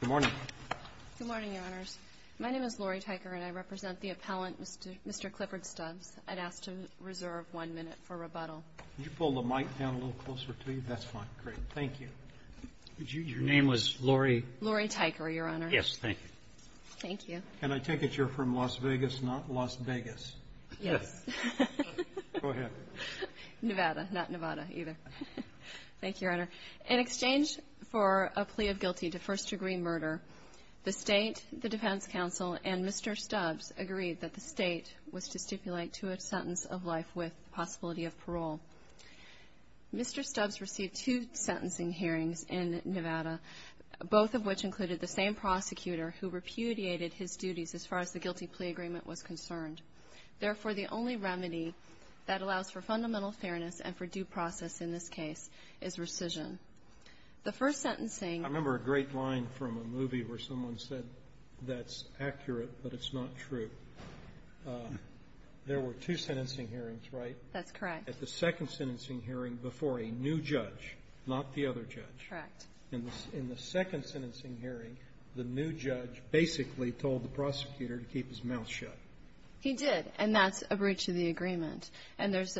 Good morning. Good morning, Your Honors. My name is Lori Tyker, and I represent the appellant, Mr. Clifford Stubbs. I'd ask to reserve one minute for rebuttal. Could you pull the mic down a little closer to you? That's fine. Great. Thank you. Your name was Lori? Lori Tyker, Your Honor. Yes. Thank you. Thank you. And I take it you're from Las Vegas, not Las Vegas. Yes. Go ahead. Nevada. Not Nevada either. Thank you, Your Honor. Thank you, Your Honor. In exchange for a plea of guilty to first-degree murder, the State, the Defense Council, and Mr. Stubbs agreed that the State was to stipulate to a sentence of life with possibility of parole. Mr. Stubbs received two sentencing hearings in Nevada, both of which included the same prosecutor who repudiated his duties as far as the guilty plea agreement was concerned. Therefore, the only remedy that allows for fundamental fairness and for due process in this case is rescission. The first sentencing ---- I remember a great line from a movie where someone said, that's accurate, but it's not true. There were two sentencing hearings, right? That's correct. At the second sentencing hearing before a new judge, not the other judge. Correct. In the second sentencing hearing, the new judge basically told the prosecutor to keep his mouth shut. He did. And that's a breach of the agreement. And there's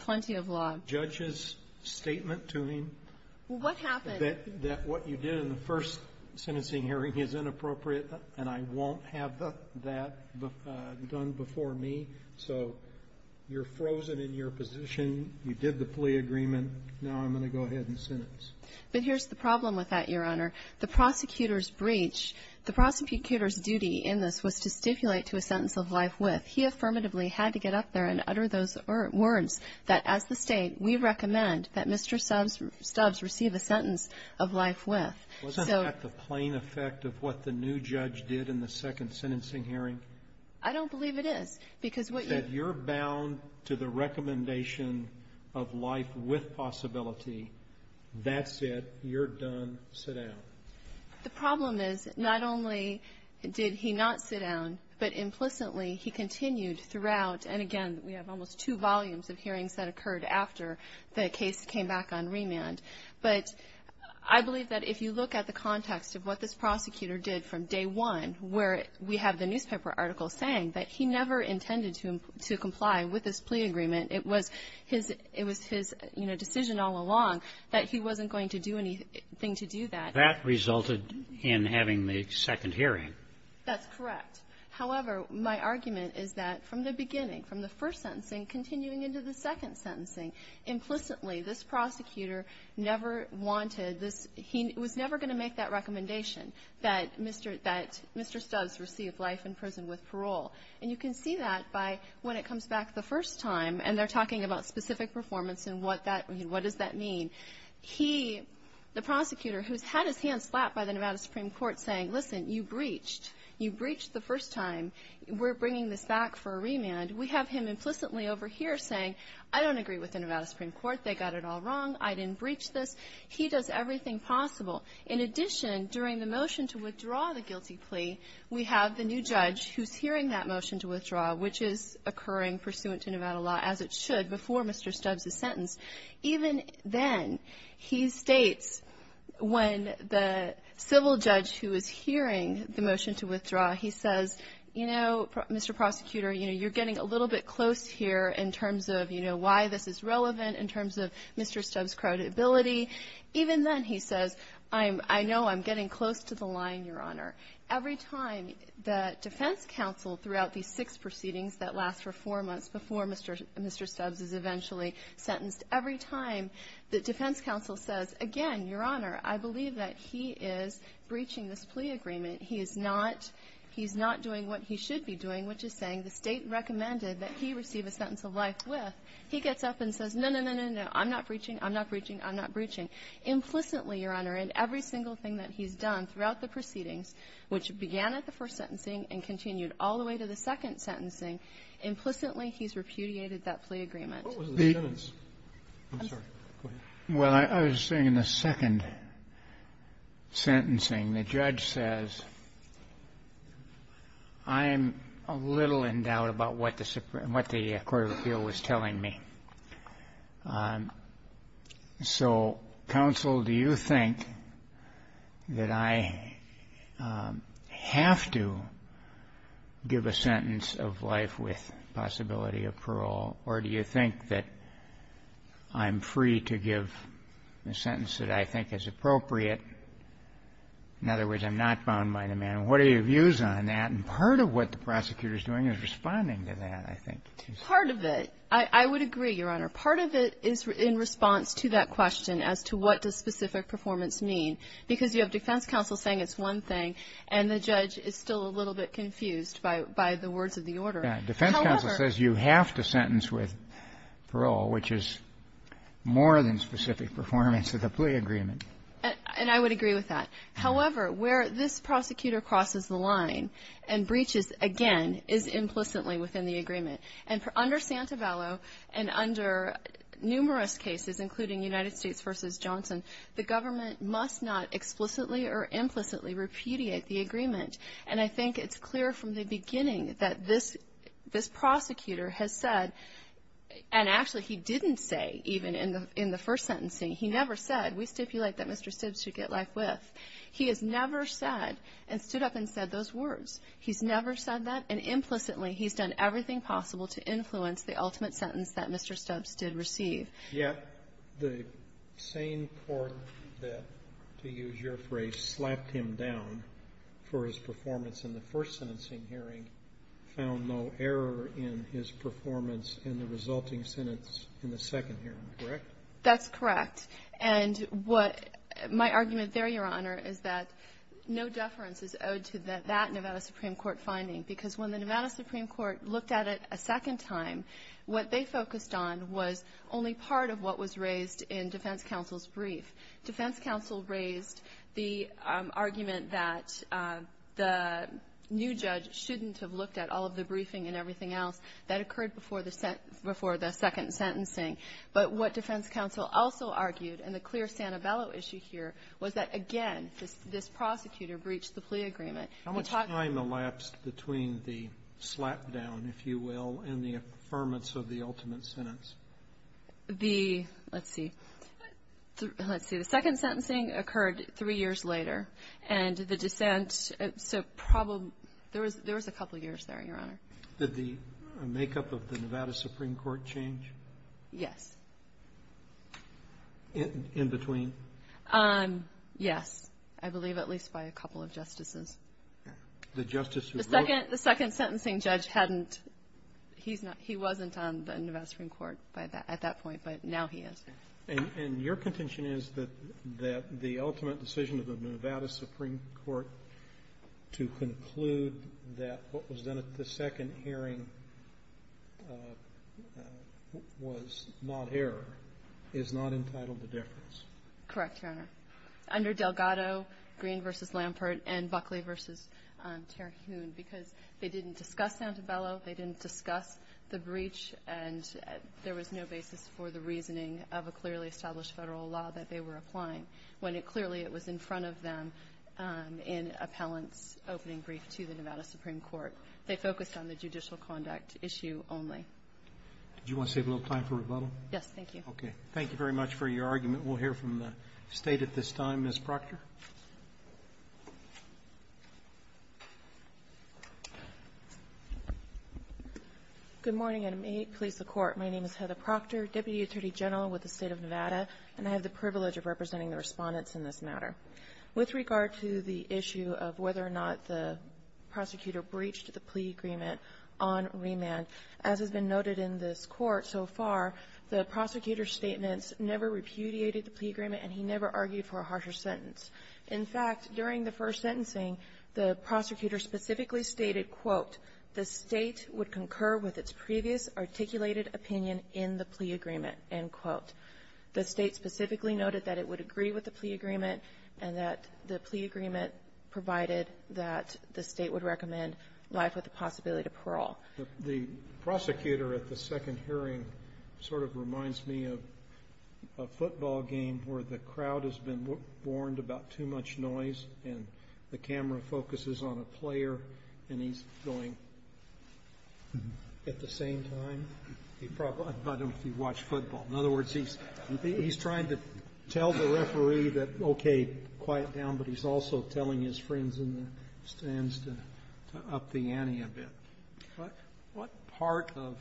plenty of law ---- Judge's statement to him ---- Well, what happened? ---- that what you did in the first sentencing hearing is inappropriate, and I won't have that done before me. So you're frozen in your position. You did the plea agreement. Now I'm going to go ahead and sentence. But here's the problem with that, Your Honor. The prosecutor's breach, the prosecutor's duty in this was to stipulate to a sentence of life with. He affirmatively had to get up there and utter those words that, as the State, we recommend that Mr. Stubbs receive a sentence of life with. So ---- Wasn't that the plain effect of what the new judge did in the second sentencing hearing? I don't believe it is, because what you ---- The problem is, not only did he not sit down, but implicitly he continued throughout, and again, we have almost two volumes of hearings that occurred after the case came back on remand. But I believe that if you look at the context of what this prosecutor did from day one, where we have the newspaper article saying that he never intended to comply with his plea agreement, it was his, you know, decision all along that he wasn't going to do anything to do that. And that resulted in having the second hearing. That's correct. However, my argument is that from the beginning, from the first sentencing continuing into the second sentencing, implicitly this prosecutor never wanted this ---- he was never going to make that recommendation that Mr. Stubbs receive life in prison with parole. And you can see that by when it comes back the first time, and they're talking about specific performance and what that ---- what does that mean? He, the prosecutor, who's had his hand slapped by the Nevada Supreme Court saying, listen, you breached. You breached the first time. We're bringing this back for a remand. We have him implicitly over here saying, I don't agree with the Nevada Supreme Court. They got it all wrong. I didn't breach this. He does everything possible. In addition, during the motion to withdraw the guilty plea, we have the new judge who's hearing that motion to withdraw, which is occurring pursuant to Nevada law as it should before Mr. Stubbs' sentence. Even then, he states when the civil judge who is hearing the motion to withdraw, he says, you know, Mr. Prosecutor, you know, you're getting a little bit close here in terms of, you know, why this is relevant in terms of Mr. Stubbs' credibility. Even then he says, I know I'm getting close to the line, Your Honor. Every time the defense counsel throughout these six proceedings that last for four months before Mr. Stubbs is eventually sentenced, every time the defense counsel says, again, Your Honor, I believe that he is breaching this plea agreement, he is not doing what he should be doing, which is saying the State recommended that he receive a sentence of life with, he gets up and says, no, no, no, no, no, I'm not breaching, I'm not breaching, I'm not breaching. Implicitly, Your Honor, in every single thing that he's done throughout the proceedings, which began at the first sentencing and continued all the way to the second sentencing, implicitly, he's repudiated that plea agreement. Kennedy. What was the sentence? I'm sorry. Go ahead. Well, I was saying in the second sentencing, the judge says, I'm a little in doubt about what the court of appeal was telling me. So, counsel, do you think that I have to give a sentence of life with possibility of parole, or do you think that I'm free to give a sentence that I think is appropriate? In other words, I'm not bound by the man. What are your views on that? And part of what the prosecutor is doing is responding to that, I think. Part of it. I would agree, Your Honor. Part of it is in response to that question as to what does specific performance mean, because you have defense counsel saying it's one thing, and the judge is still a little bit confused by the words of the order. Defense counsel says you have to sentence with parole, which is more than specific performance of the plea agreement. And I would agree with that. However, where this prosecutor crosses the line and breaches, again, is implicitly within the agreement. And under Santabello and under numerous cases, including United States v. Johnson, the government must not explicitly or implicitly repudiate the agreement. And I think it's clear from the beginning that this prosecutor has said, and actually he didn't say even in the first sentencing, he never said, we stipulate that Mr. Sibbs should get life with. He has never said and stood up and said those words. He's never said that. And implicitly, he's done everything possible to influence the ultimate sentence that Mr. Sibbs did receive. Yeah. The same court that, to use your phrase, slapped him down for his performance in the first sentencing hearing found no error in his performance in the resulting sentence in the second hearing, correct? That's correct. And what my argument there, Your Honor, is that no deference is owed to that that Nevada Supreme Court finding. Because when the Nevada Supreme Court looked at it a second time, what they focused on was only part of what was raised in defense counsel's brief. Defense counsel raised the argument that the new judge shouldn't have looked at all of the briefing and everything else that occurred before the second sentencing. But what defense counsel also argued, and the clear Santabello issue here, was that, again, this prosecutor breached the plea agreement. How much time elapsed between the slapdown, if you will, and the affirmance of the ultimate sentence? The – let's see. Let's see. The second sentencing occurred three years later. And the dissent – so probably – there was a couple years there, Your Honor. Did the makeup of the Nevada Supreme Court change? Yes. In between? Yes. I believe at least by a couple of justices. The justice who wrote? The second – the second sentencing judge hadn't – he's not – he wasn't on the Nevada Supreme Court by that – at that point, but now he is. And your contention is that the ultimate decision of the Nevada Supreme Court to conclude that what was done at the second hearing was not error is not entitled to deference? Correct, Your Honor. Under Delgado, Green v. Lampert, and Buckley v. Terhune, because they didn't discuss Santabello, they didn't discuss the breach, and there was no basis for the reasoning of a clearly established federal law that they were applying when it clearly – it was in front of them in appellant's opening brief to the Nevada Supreme Court. They focused on the judicial conduct issue only. Do you want to save a little time for rebuttal? Yes, thank you. Okay. Thank you very much for your argument. We'll hear from the State at this time. Ms. Proctor. Good morning, and may it please the Court. My name is Heather Proctor, Deputy Attorney General with the State of Nevada, and I have the privilege of representing the Respondents in this matter. With regard to the issue of whether or not the prosecutor breached the plea agreement on remand, as has been noted in this Court so far, the prosecutor's statements never repudiated the plea agreement, and he never argued for a harsher sentence. In fact, during the first sentencing, the prosecutor specifically stated, quote, the State would concur with its previous articulated opinion in the plea agreement, end quote. The State specifically noted that it would agree with the plea agreement and that the plea agreement provided that the State would recommend life with the possibility to parole. The prosecutor at the second hearing sort of reminds me of a football game where the crowd has been warned about too much noise and the camera focuses on a player and he's going at the same time. I don't know if you've watched football. In other words, he's trying to tell the referee that, okay, quiet down, but he's also telling his friends in the stands to up the ante a bit. What part of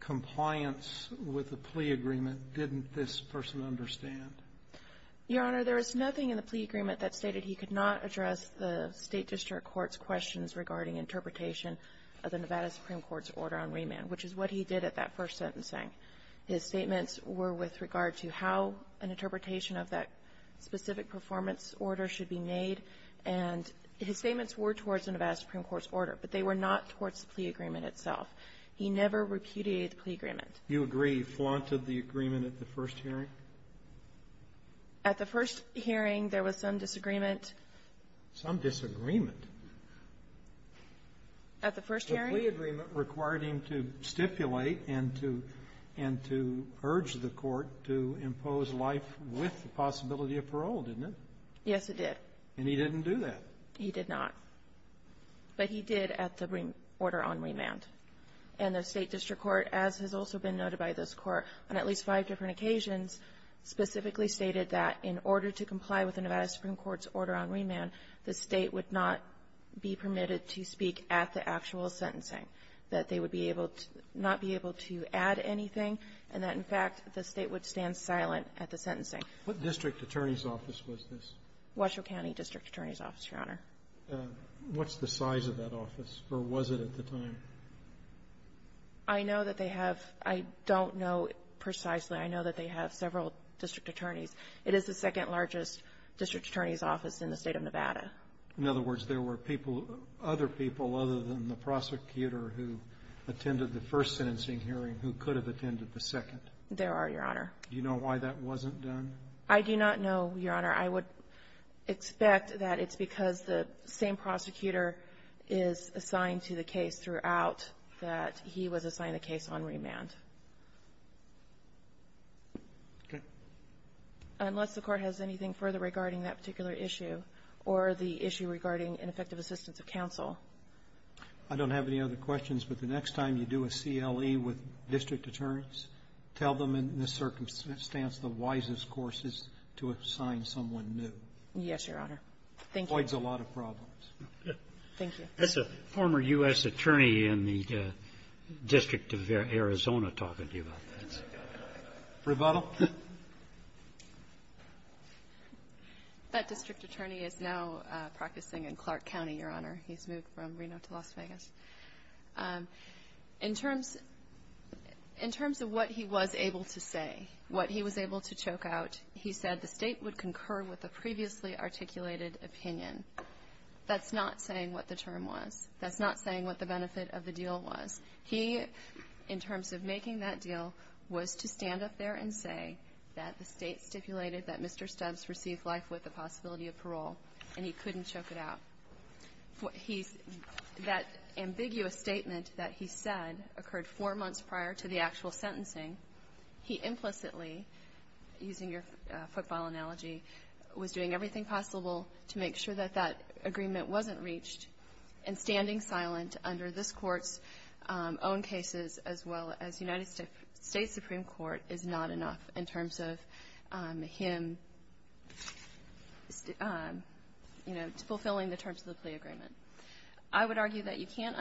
compliance with the plea agreement didn't this person understand? Your Honor, there is nothing in the plea agreement that stated he could not address the State district court's questions regarding interpretation of the Nevada Supreme Court's order on remand, which is what he did at that first sentencing. His statements were with regard to how an interpretation of that specific performance order should be made, and his statements were towards the Nevada Supreme Court's order, but they were not towards the plea agreement itself. He never repudiated the plea agreement. You agree he flaunted the agreement at the first hearing? At the first hearing, there was some disagreement. Some disagreement? At the first hearing? The plea agreement required him to stipulate and to urge the court to impose life with the possibility of parole, didn't it? Yes, it did. And he didn't do that? He did not. But he did at the order on remand. And the State district court, as has also been noted by this Court, on at least five different occasions, specifically stated that in order to comply with the Nevada Supreme Court's order on remand, the State would not be permitted to speak at the actual sentencing, that they would be able to not be able to add anything, and that, in fact, the State would stand silent at the sentencing. What district attorney's office was this? Washoe County District Attorney's Office, Your Honor. What's the size of that office, or was it at the time? I know that they have – I don't know precisely. I know that they have several district attorneys. It is the second-largest district attorney's office in the State of Nevada. In other words, there were people, other people, other than the prosecutor who attended the first sentencing hearing who could have attended the second. There are, Your Honor. Do you know why that wasn't done? I do not know, Your Honor. I would expect that it's because the same prosecutor is assigned to the case throughout that he was assigned a case on remand. Okay. Unless the Court has anything further regarding that particular issue or the issue regarding ineffective assistance of counsel. I don't have any other questions, but the next time you do a CLE with district attorneys, tell them in this circumstance the wisest course is to assign someone new. Yes, Your Honor. Thank you. It avoids a lot of problems. Thank you. That's a former U.S. attorney in the District of Arizona talking to you about this. Rebuttal? That district attorney is now practicing in Clark County, Your Honor. He's moved from Reno to Las Vegas. In terms of what he was able to say, what he was able to choke out, he said the state would concur with the previously articulated opinion. That's not saying what the term was. That's not saying what the benefit of the deal was. He, in terms of making that deal, was to stand up there and say that the state stipulated that Mr. Stubbs received life with the possibility of parole, and he couldn't choke it out. That ambiguous statement that he said occurred four months prior to the actual sentencing. He implicitly, using your footfall analogy, was doing everything possible to make sure that that agreement wasn't reached, and standing silent under this Court's own cases as well as United States Supreme Court is not enough in terms of him, you know, fulfilling the terms of the plea agreement. I would argue that you can't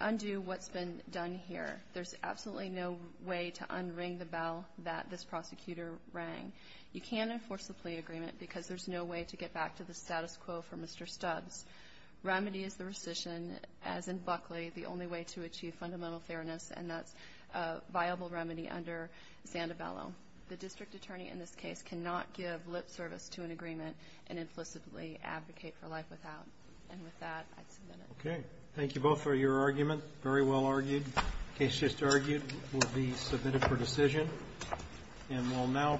undo what's been done here. There's absolutely no way to unring the bell that this prosecutor rang. You can't enforce the plea agreement because there's no way to get back to the status quo for Mr. Stubbs. Remedy is the rescission, as in Buckley, the only way to achieve fundamental fairness, and that's a viable remedy under Sandovalo. The district attorney in this case cannot give lip service to an agreement and implicitly advocate for life without. And with that, I submit it. Okay. Thank you both for your argument. Very well argued. The case just argued will be submitted for decision. And we'll now.